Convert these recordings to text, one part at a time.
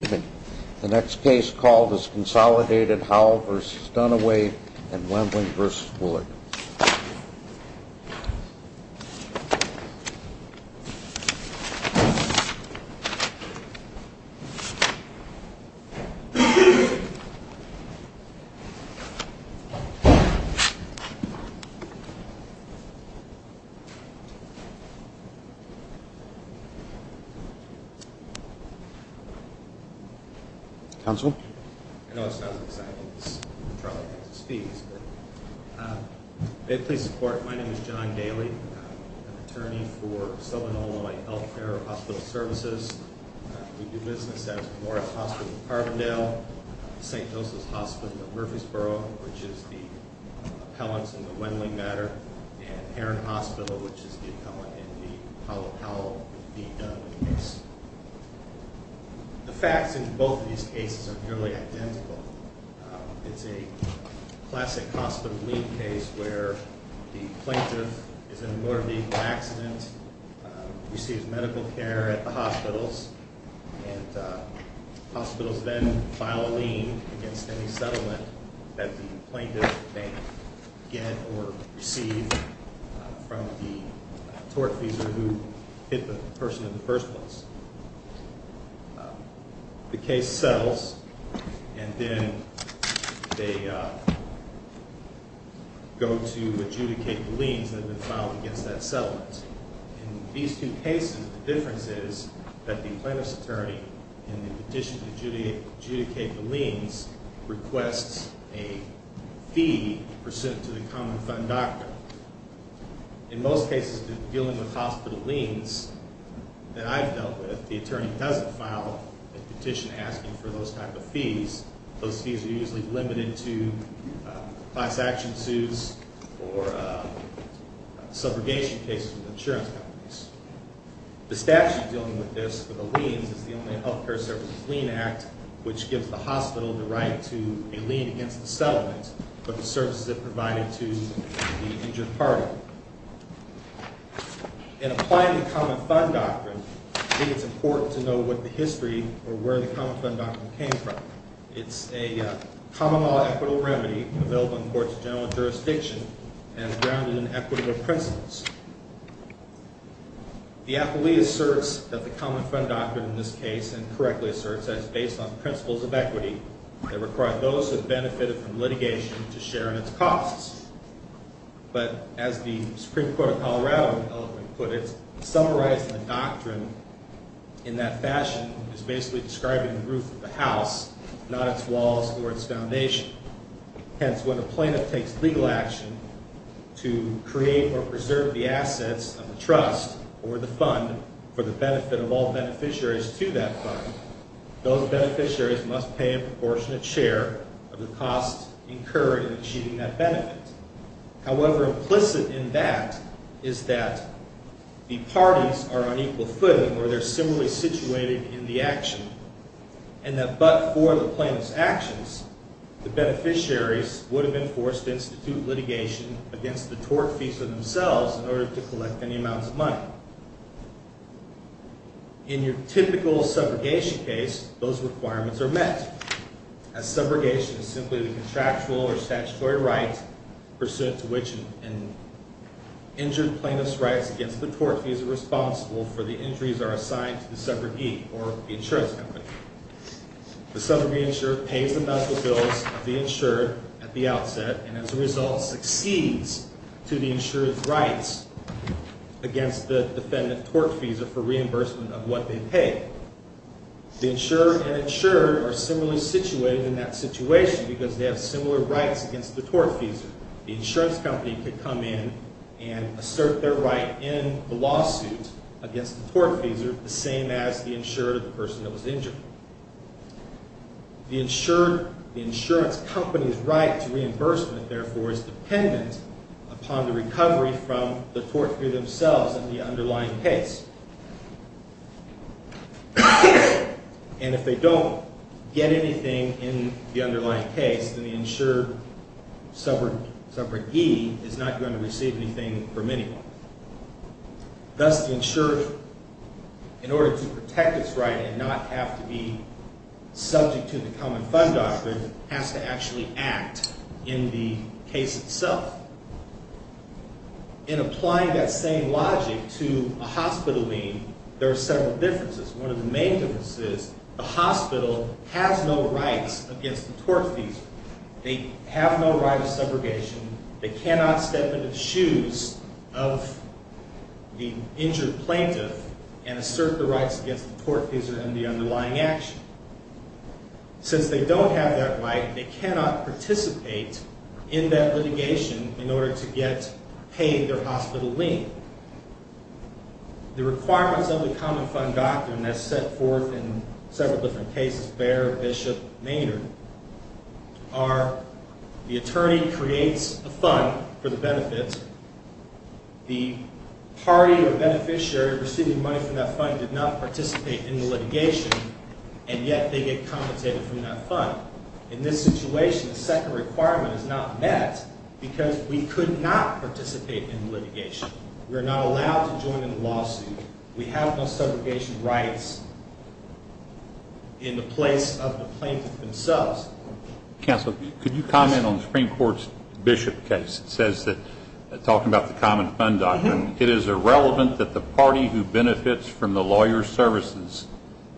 The next case called is Consolidated Howell v. Dunaway and Wembling v. Bullock. My name is John Daly. I'm an attorney for Solenoid Health Care and Hospital Services. We do business at Memorial Hospital in Carbondale, St. Joseph's Hospital in Murfreesboro, which is the appellants in the Wembling matter, and Heron Hospital, which is the appellant in the Howell v. Dunaway case. The facts in both of these cases are nearly identical. It's a classic hospital lien case where the plaintiff is in a motor vehicle accident, receives medical care at the hospitals, and hospitals then file a lien against any settlement that the plaintiff may get or receive from the tortfeasor who hit the person in the first place. The case settles, and then they go to adjudicate the liens that have been filed against that settlement. In these two cases, the difference is that the plaintiff's attorney, in the petition to adjudicate the liens, requests a fee pursuant to the common fund doctrine. In most cases dealing with hospital liens that I've dealt with, the attorney doesn't file a petition asking for those type of fees. Those fees are usually limited to class action suits or subrogation cases with insurance companies. The statute dealing with this for the liens is the Illinois Health Care Services Lien Act, which gives the hospital the right to a lien against the settlement for the services it provided to the injured party. In applying the common fund doctrine, I think it's important to know what the history or where the common fund doctrine came from. It's a common law equitable remedy available in the courts of general jurisdiction and grounded in equitable principles. The appellee asserts that the common fund doctrine in this case, and correctly asserts that it's based on principles of equity that require those who have benefited from litigation to share in its costs. But as the Supreme Court of Colorado eloquently put it, summarizing the doctrine in that fashion is basically describing the roof of the house, not its walls or its foundation. Hence, when a plaintiff takes legal action to create or preserve the assets of the trust or the fund for the benefit of all beneficiaries to that fund, those beneficiaries must pay a proportionate share of the costs incurred in achieving that benefit. However, implicit in that is that the parties are on equal footing, or they're similarly situated in the action, and that but for the plaintiff's actions, the beneficiaries would have been forced to institute litigation against the tort fees for themselves in order to collect any amounts of money. In your typical subrogation case, those requirements are met, as subrogation is simply the contractual or statutory right pursuant to which an injured plaintiff's rights against the tort fees are responsible for the injuries are assigned to the subrogee or the insurance company. The subrogate insurer pays the medical bills of the insured at the outset and, as a result, succeeds to the insurer's rights against the defendant's tort fees for reimbursement of what they paid. The insurer and insured are similarly situated in that situation because they have similar rights against the tort fees. The insurance company could come in and assert their right in the lawsuit against the tort fees, the same as the insured or the person that was injured. The insurance company's right to reimbursement, therefore, is dependent upon the recovery from the tort fee themselves in the underlying case. And if they don't get anything in the underlying case, then the insured subrogee is not going to receive anything from anyone. Thus, the insured, in order to protect its right and not have to be subject to the common fund doctrine, has to actually act in the case itself. In applying that same logic to a hospital lien, there are several differences. One of the main differences is the hospital has no rights against the tort fees. They have no right of subrogation. They cannot step into the shoes of the injured plaintiff and assert the rights against the tort fees and the underlying action. Since they don't have that right, they cannot participate in that litigation in order to get paid their hospital lien. The requirements of the common fund doctrine, as set forth in several different cases, Behr, Bishop, Maynard, are the attorney creates a fund for the benefit. The party or beneficiary receiving money from that fund did not participate in the litigation, and yet they get compensated from that fund. In this situation, the second requirement is not met because we could not participate in the litigation. We are not allowed to join in the lawsuit. We have no subrogation rights in the place of the plaintiff themselves. Counsel, could you comment on the Supreme Court's Bishop case? It says that, talking about the common fund doctrine, it is irrelevant that the party who benefits from the lawyer's services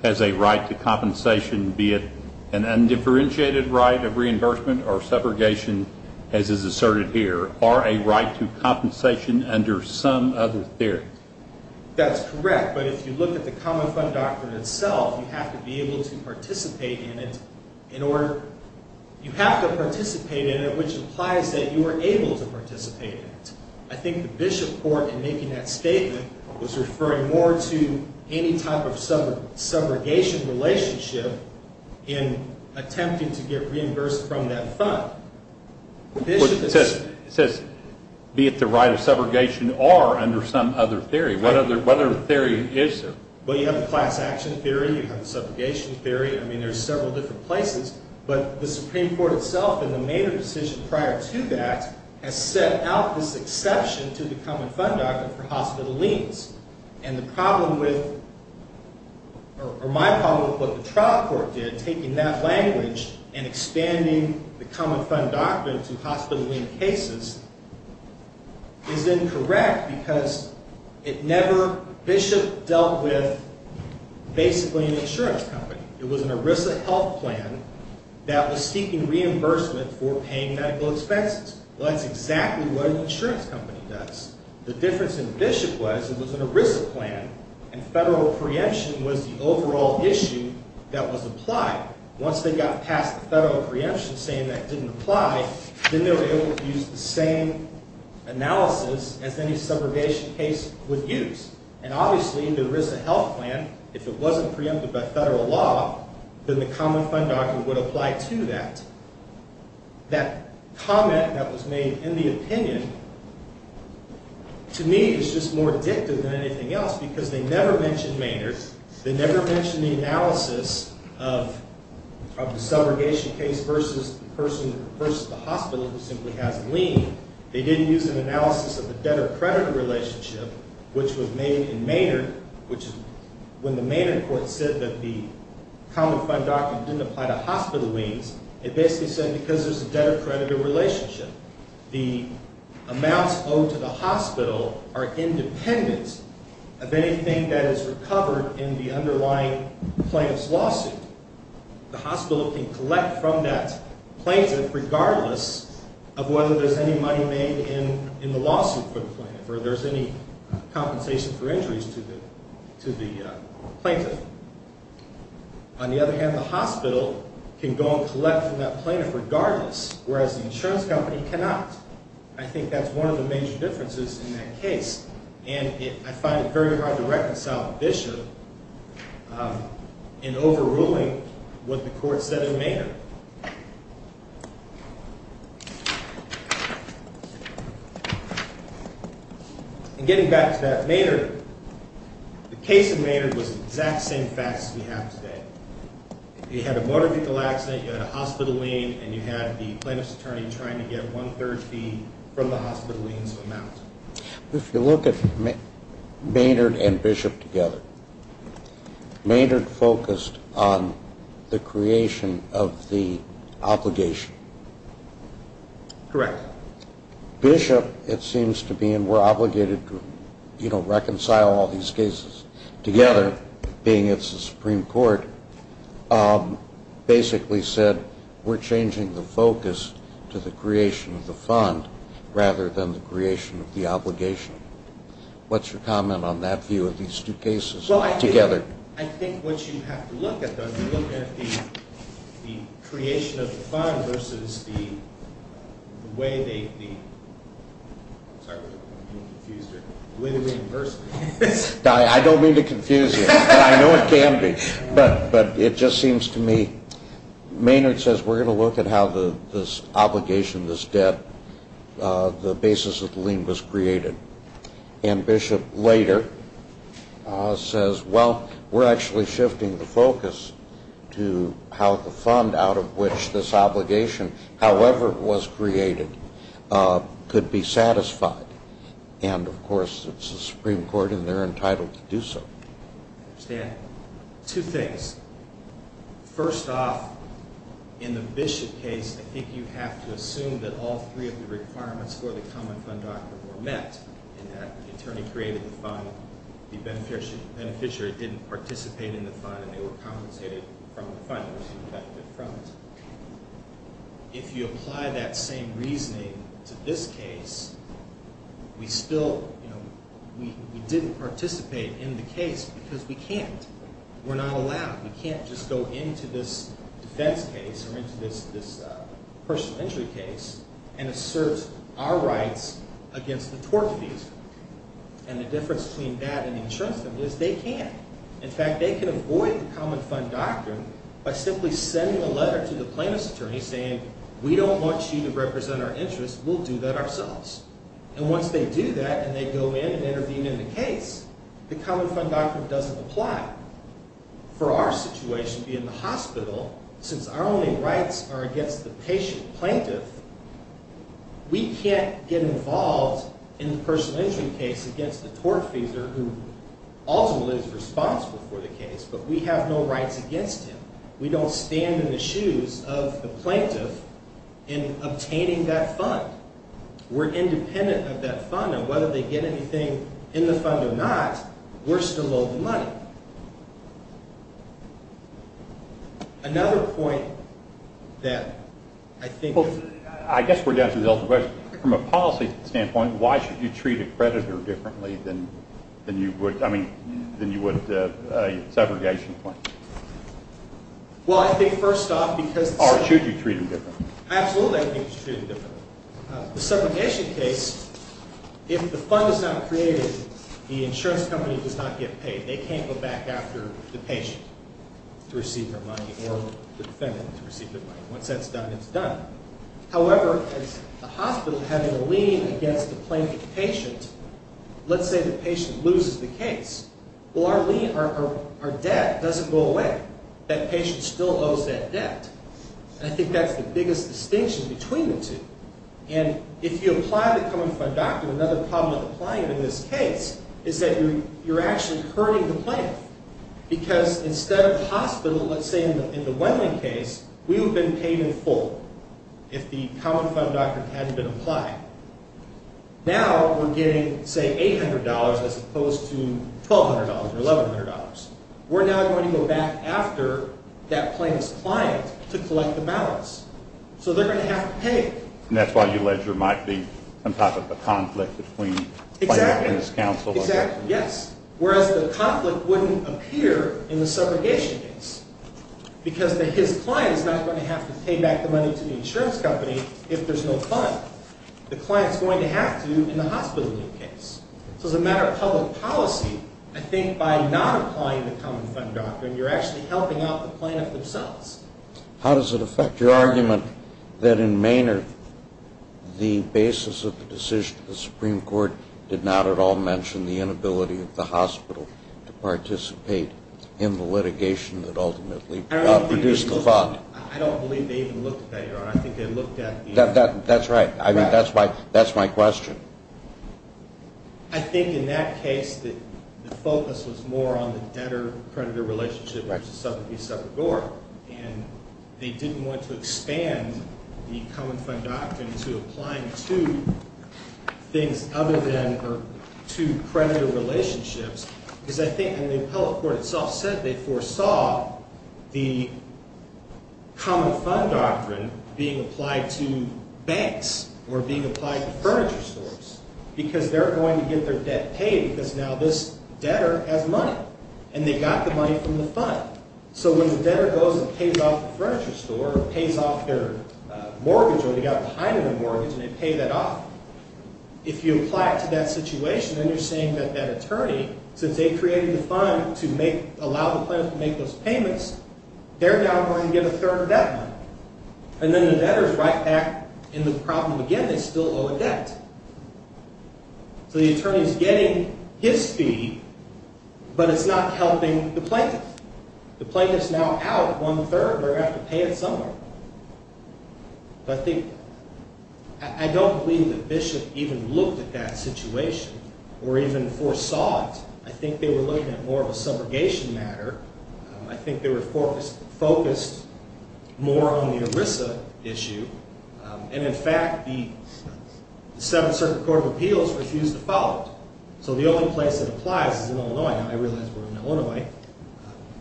has a right to compensation, be it an undifferentiated right of reimbursement or subrogation, as is asserted here, or a right to compensation under some other theory. That's correct, but if you look at the common fund doctrine itself, you have to be able to participate in it. You have to participate in it, which implies that you are able to participate in it. I think the Bishop court, in making that statement, was referring more to any type of subrogation relationship in attempting to get reimbursed from that fund. It says, be it the right of subrogation or under some other theory. What other theory is there? Well, you have the class action theory, you have the subrogation theory. I mean, there are several different places. But the Supreme Court itself, in the Maynard decision prior to that, has set out this exception to the common fund doctrine for hospital liens. And the problem with, or my problem with what the trial court did, taking that language and expanding the common fund doctrine to hospital lien cases, is incorrect because it never, Bishop dealt with basically an insurance company. It was an ERISA health plan that was seeking reimbursement for paying medical expenses. Well, that's exactly what an insurance company does. The difference in Bishop was, it was an ERISA plan, and federal preemption was the overall issue that was applied. Once they got past the federal preemption saying that didn't apply, then they were able to use the same analysis as any subrogation case would use. And obviously, the ERISA health plan, if it wasn't preempted by federal law, then the common fund doctrine would apply to that. That comment that was made in the opinion, to me, is just more addictive than anything else because they never mentioned Maynard. They never mentioned the analysis of the subrogation case versus the person, versus the hospital who simply has a lien. They didn't use an analysis of the debtor-creditor relationship, which was made in Maynard, which is when the Maynard court said that the common fund doctrine didn't apply to hospital liens. It basically said because there's a debtor-creditor relationship, the amounts owed to the hospital are independent of anything that is recovered in the underlying plaintiff's lawsuit. The hospital can collect from that plaintiff regardless of whether there's any money made in the lawsuit for the plaintiff, or there's any compensation for injuries to the plaintiff. On the other hand, the hospital can go and collect from that plaintiff regardless, whereas the insurance company cannot. I think that's one of the major differences in that case, and I find it very hard to reconcile Bishop in overruling what the court said in Maynard. And getting back to that Maynard, the case in Maynard was the exact same facts as we have today. You had a motor vehicle accident, you had a hospital lien, and you had the plaintiff's attorney trying to get one-third fee from the hospital lien's amount. If you look at Maynard and Bishop together, Maynard focused on the creation of the obligation. Correct. Bishop, it seems to be, and we're obligated to reconcile all these cases together, being it's the Supreme Court, basically said we're changing the focus to the creation of the fund rather than the creation of the obligation. What's your comment on that view of these two cases together? I think what you have to look at, though, is you look at the creation of the fund versus the way they, I'm sorry, I'm being confused here. I don't mean to confuse you, but I know it can be. But it just seems to me, Maynard says we're going to look at how this obligation, this debt, the basis of the lien was created. And Bishop later says, well, we're actually shifting the focus to how the fund out of which this obligation, however it was created, could be satisfied. And, of course, it's the Supreme Court and they're entitled to do so. I understand. Two things. First off, in the Bishop case, I think you have to assume that all three of the requirements for the common fund doctrine were met in that the attorney created the fund, the beneficiary didn't participate in the fund, and they were compensated from the fund. If you apply that same reasoning to this case, we still, you know, we didn't participate in the case because we can't. We're not allowed. We can't just go into this defense case or into this personal injury case and assert our rights against the tort defeasor. And the difference between that and insurance theft is they can't. But simply sending a letter to the plaintiff's attorney saying, we don't want you to represent our interests, we'll do that ourselves. And once they do that and they go in and intervene in the case, the common fund doctrine doesn't apply. For our situation, being the hospital, since our only rights are against the patient plaintiff, we can't get involved in the personal injury case against the tort defeasor who ultimately is responsible for the case. But we have no rights against him. We don't stand in the shoes of the plaintiff in obtaining that fund. We're independent of that fund, and whether they get anything in the fund or not, we're still owed the money. Another point that I think... I guess we're down to the ultimate question. From a policy standpoint, why should you treat a creditor differently than you would a segregation claim? Well, I think first off because... Or should you treat them differently? Absolutely I think you should treat them differently. The segregation case, if the fund is not created, the insurance company does not get paid. They can't go back after the patient to receive their money or the defendant to receive their money. Once that's done, it's done. However, as the hospital having a lien against the plaintiff patient, let's say the patient loses the case. Well, our debt doesn't go away. That patient still owes that debt. And I think that's the biggest distinction between the two. And if you apply the common fund doctrine, another problem with applying it in this case is that you're actually hurting the plaintiff. Because instead of the hospital, let's say in the Wendlandt case, we would have been paid in full if the common fund doctrine hadn't been applied. Now we're getting say $800 as opposed to $1,200 or $1,100. We're now going to go back after that plaintiff's client to collect the balance. So they're going to have to pay. And that's why you allege there might be some type of a conflict between the plaintiff and his counsel. Whereas the conflict wouldn't appear in the subrogation case. Because his client is not going to have to pay back the money to the insurance company if there's no client. The client's going to have to in the hospital case. So as a matter of public policy, I think by not applying the common fund doctrine, you're actually helping out the plaintiff themselves. How does it affect your argument that in Maynard, the basis of the decision of the Supreme Court did not at all mention the inability of the hospital to participate in the litigation that ultimately produced the fund? I don't believe they even looked at that, Your Honor. That's right. That's my question. I think in that case, the focus was more on the debtor-creditor relationship versus subrogate-subrogore. And they didn't want to expand the common fund doctrine to applying two things other than or two creditor relationships. Because I think the appellate court itself said they foresaw the common fund doctrine being applied to banks or being applied to furniture stores. Because they're going to get their debt paid because now this debtor has money. And they got the money from the fund. So when the debtor goes and pays off the furniture store or pays off their mortgage or they got behind on their mortgage and they pay that off. If you apply it to that situation, then you're saying that that attorney, since they created the fund to allow the plaintiff to make those payments, they're now going to get a third of that money. And then the debtor's right back in the problem again. They still owe a debt. So the attorney's getting his fee, but it's not helping the plaintiff. The plaintiff's now out one-third. They're going to have to pay it somewhere. I don't believe that Bishop even looked at that situation or even foresaw it. I think they were looking at more of a subrogation matter. I think they were focused more on the ERISA issue. And in fact, the Seventh Circuit Court of Appeals refused to follow it. So the only place it applies is in Illinois. Now, I realize we're in Illinois.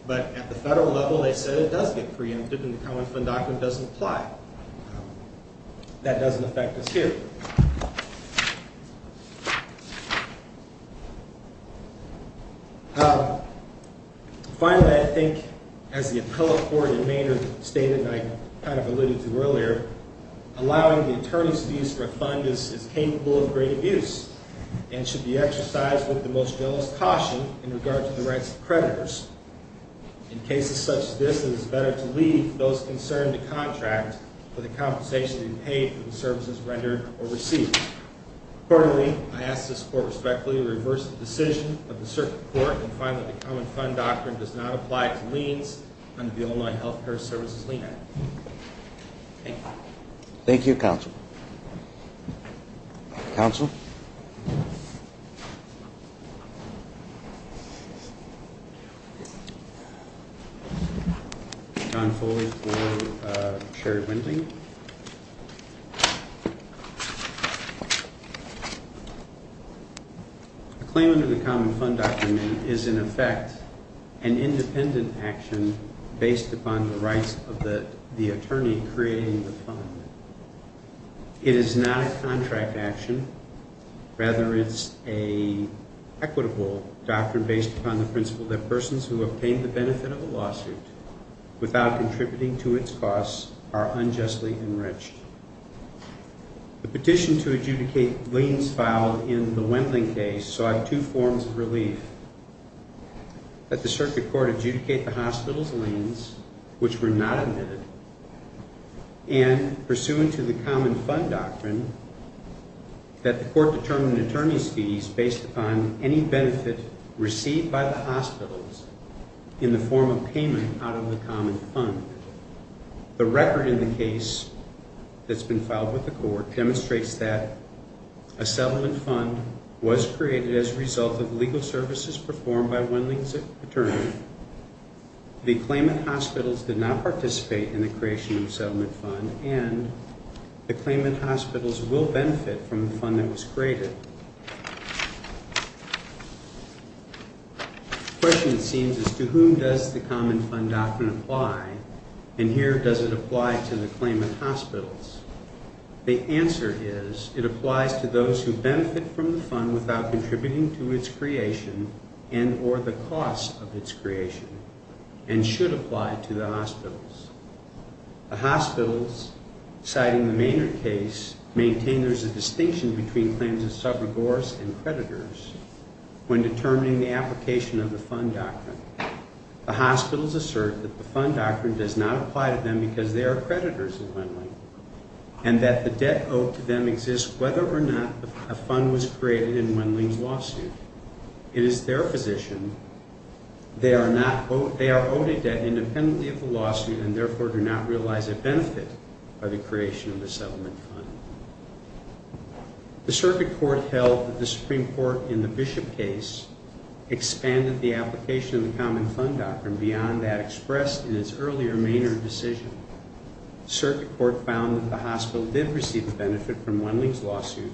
But at the federal level, they said it does get preempted and the Common Fund document doesn't apply. That doesn't affect us here. Finally, I think, as the appellate court in Maynard stated and I kind of alluded to earlier, allowing the attorney's fees for a fund is capable of great abuse. And it should be exercised with the most zealous caution in regard to the rights of creditors. In cases such as this, it is better to leave those concerned to contract for the compensation to be paid for the services rendered or received. Quarterly, I ask this court respectfully to reverse the decision of the circuit court and find that the Common Fund doctrine does not apply to liens under the Illinois Health Care Services Lien Act. Thank you. Thank you, Counsel. Counsel? John Foley for Sherry Wending. Thank you. A claim under the Common Fund doctrine is, in effect, an independent action based upon the rights of the attorney creating the fund. It is not a contract action. Rather, it's an equitable doctrine based upon the principle that persons who obtain the benefit of a lawsuit without contributing to its costs are unjustly enriched. The petition to adjudicate liens filed in the Wendling case saw two forms of relief. That the circuit court adjudicate the hospital's liens, which were not admitted. And, pursuant to the Common Fund doctrine, that the court determine an attorney's fees based upon any benefit received by the hospitals in the form of payment out of the Common Fund. The record in the case that's been filed with the court demonstrates that a settlement fund was created as a result of legal services performed by Wendling's attorney. The claimant hospitals did not participate in the creation of a settlement fund and the claimant hospitals will benefit from the fund that was created. The question, it seems, is to whom does the Common Fund doctrine apply? And here, does it apply to the claimant hospitals? The answer is, it applies to those who benefit from the fund without contributing to its creation and or the costs of its creation and should apply to the hospitals. The hospitals, citing the Maynard case, maintain there's a distinction between claims of subrogors and creditors when determining the application of the fund doctrine. The hospitals assert that the fund doctrine does not apply to them because they are creditors of Wendling. And that the debt owed to them exists whether or not a fund was created in Wendling's lawsuit. It is their position they are owed a debt independently of the lawsuit and therefore do not realize a benefit by the creation of the settlement fund. The circuit court held that the Supreme Court in the Bishop case expanded the application of the Common Fund doctrine beyond that expressed in its earlier Maynard decision. The circuit court found that the hospital did receive a benefit from Wendling's lawsuit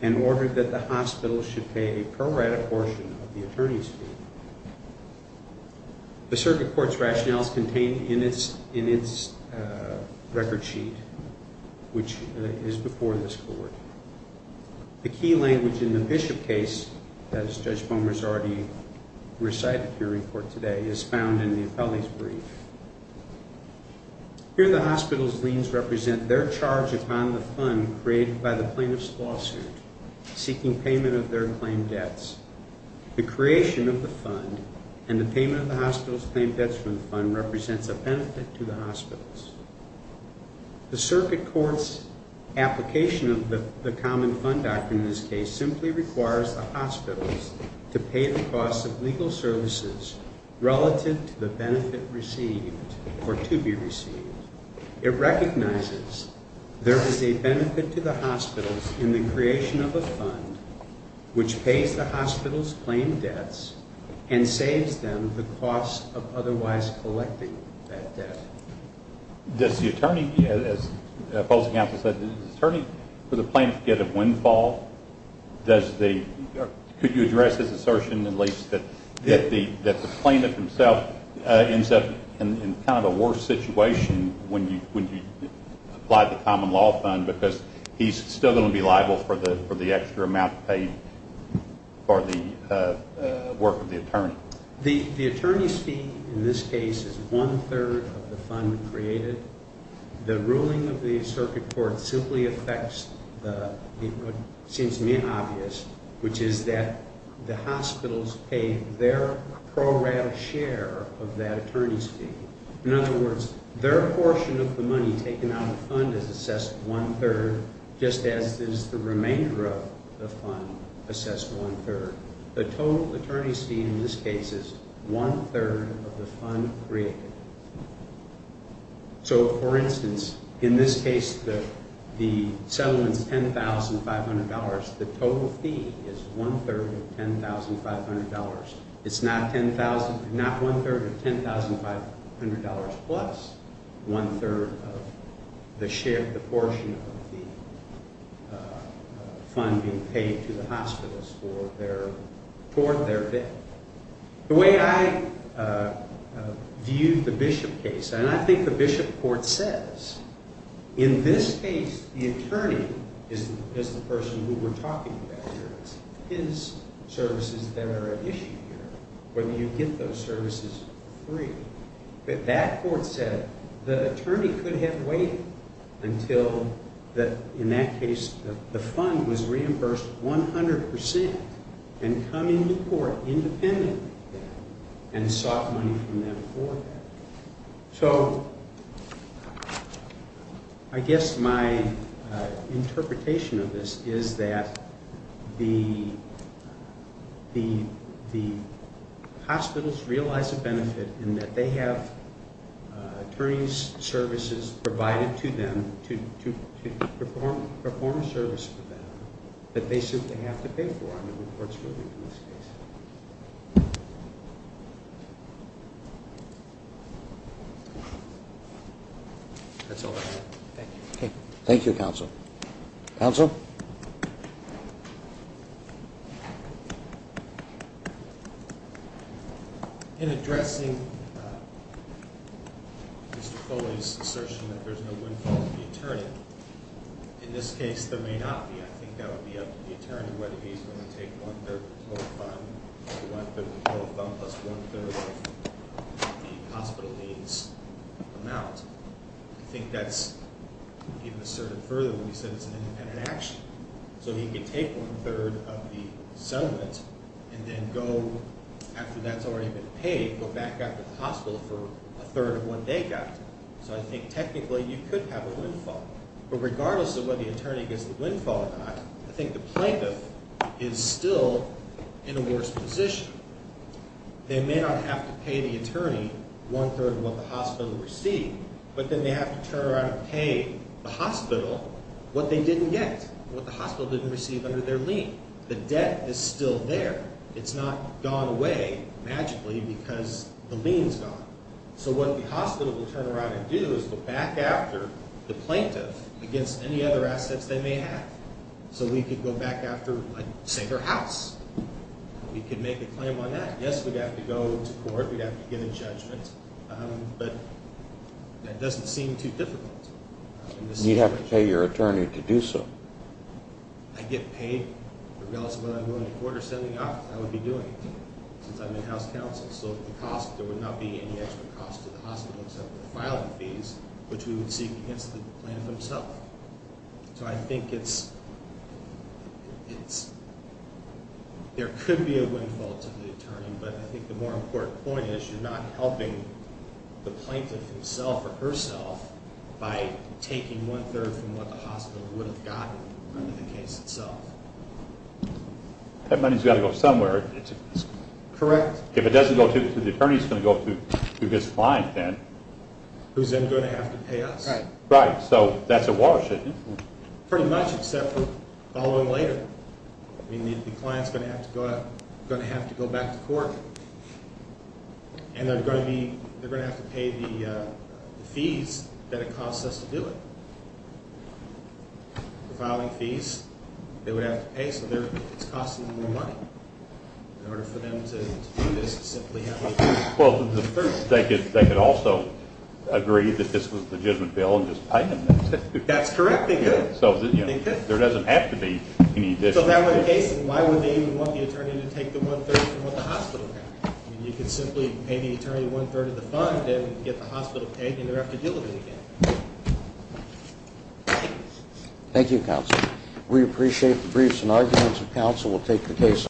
and ordered that the hospital should pay a pro-rata portion of the attorney's fee. The circuit court's rationale is contained in its record sheet, which is before this court. The key language in the Bishop case, as Judge Bomer has already recited here in court today, is found in the appellee's brief. Here the hospital's liens represent their charge upon the fund created by the plaintiff's lawsuit, seeking payment of their claim debts. The creation of the fund and the payment of the hospital's claim debts from the fund represents a benefit to the hospitals. The circuit court's application of the Common Fund doctrine in this case simply requires the hospitals to pay the cost of legal services relative to the benefit received or to be received. It recognizes there is a benefit to the hospitals in the creation of a fund which pays the hospitals' claim debts and saves them the cost of otherwise collecting that debt. Does the attorney, as the opposing counsel said, does the attorney for the plaintiff get a windfall? Could you address his assertion at least that the plaintiff himself ends up in kind of a worse situation when you apply the Common Law Fund because he's still going to be liable for the extra amount paid for the work of the attorney? The attorney's fee in this case is one-third of the fund created. The ruling of the circuit court simply affects what seems to be obvious, which is that the hospitals pay their pro rata share of that attorney's fee. In other words, their portion of the money taken out of the fund is assessed one-third just as is the remainder of the fund assessed one-third. The total attorney's fee in this case is one-third of the fund created. So, for instance, in this case the settlement is $10,500. The total fee is one-third of $10,500. It's not one-third of $10,500 plus one-third of the portion of the fund being paid to the hospitals for their debt. The way I view the Bishop case, and I think the Bishop court says, in this case the attorney is the person who we're talking about here. It's his services that are at issue here, whether you get those services free. But that court said the attorney could have waited until, in that case, the fund was reimbursed 100% and come into court independently and sought money from them for that. So, I guess my interpretation of this is that the hospitals realize a benefit in that they have attorney's services provided to them to perform a service for them that they simply have to pay for. That's all I have. Thank you. Thank you, Counsel. Counsel? In addressing Mr. Foley's assertion that there's no windfall to the attorney, in this case there may not be. I think that would be up to the attorney whether he's willing to take one-third of the total fund, one-third of the total fund plus one-third of the hospital needs amount. I think that's even asserted further when you said it's an independent action. So, he could take one-third of the settlement and then go, after that's already been paid, go back out to the hospital for a third of what they got. So, I think technically you could have a windfall. But regardless of whether the attorney gets the windfall or not, I think the plaintiff is still in a worse position. They may not have to pay the attorney one-third of what the hospital received, but then they have to turn around and pay the hospital what they didn't get, what the hospital didn't receive under their lien. The debt is still there. It's not gone away magically because the lien's gone. So, what the hospital will turn around and do is go back after the plaintiff against any other assets they may have. So, we could go back after, say, their house. We could make a claim on that. Yes, we'd have to go to court. We'd have to get a judgment. But that doesn't seem too difficult. You'd have to pay your attorney to do so. I'd get paid. But regardless of whether I'm going to court or setting up, I would be doing it since I'm in house counsel. So, the cost, there would not be any extra cost to the hospital except for the filing fees, which we would seek against the plaintiff himself. So, I think there could be a windfall to the attorney. But I think the more important point is you're not helping the plaintiff himself or herself by taking one-third from what the hospital would have gotten under the case itself. That money's got to go somewhere. Correct. If it doesn't go to the attorney, it's going to go to his client then. Who's then going to have to pay us. Right. So, that's a watershed. Pretty much, except for following later. The client's going to have to go back to court. And they're going to have to pay the fees that it costs us to do it. The filing fees they would have to pay, so it's costing them more money. In order for them to do this, they simply have to do it. Well, they could also agree that this was a legitimate bill and just pay them this. That's correct. They could. So, there doesn't have to be any additional cost. So, if that were the case, then why would they even want the attorney to take the one-third from what the hospital had? I mean, you could simply pay the attorney one-third of the fund and get the hospital paid and never have to deal with it again. Thank you, counsel. We appreciate the briefs and arguments of counsel. We'll take the case.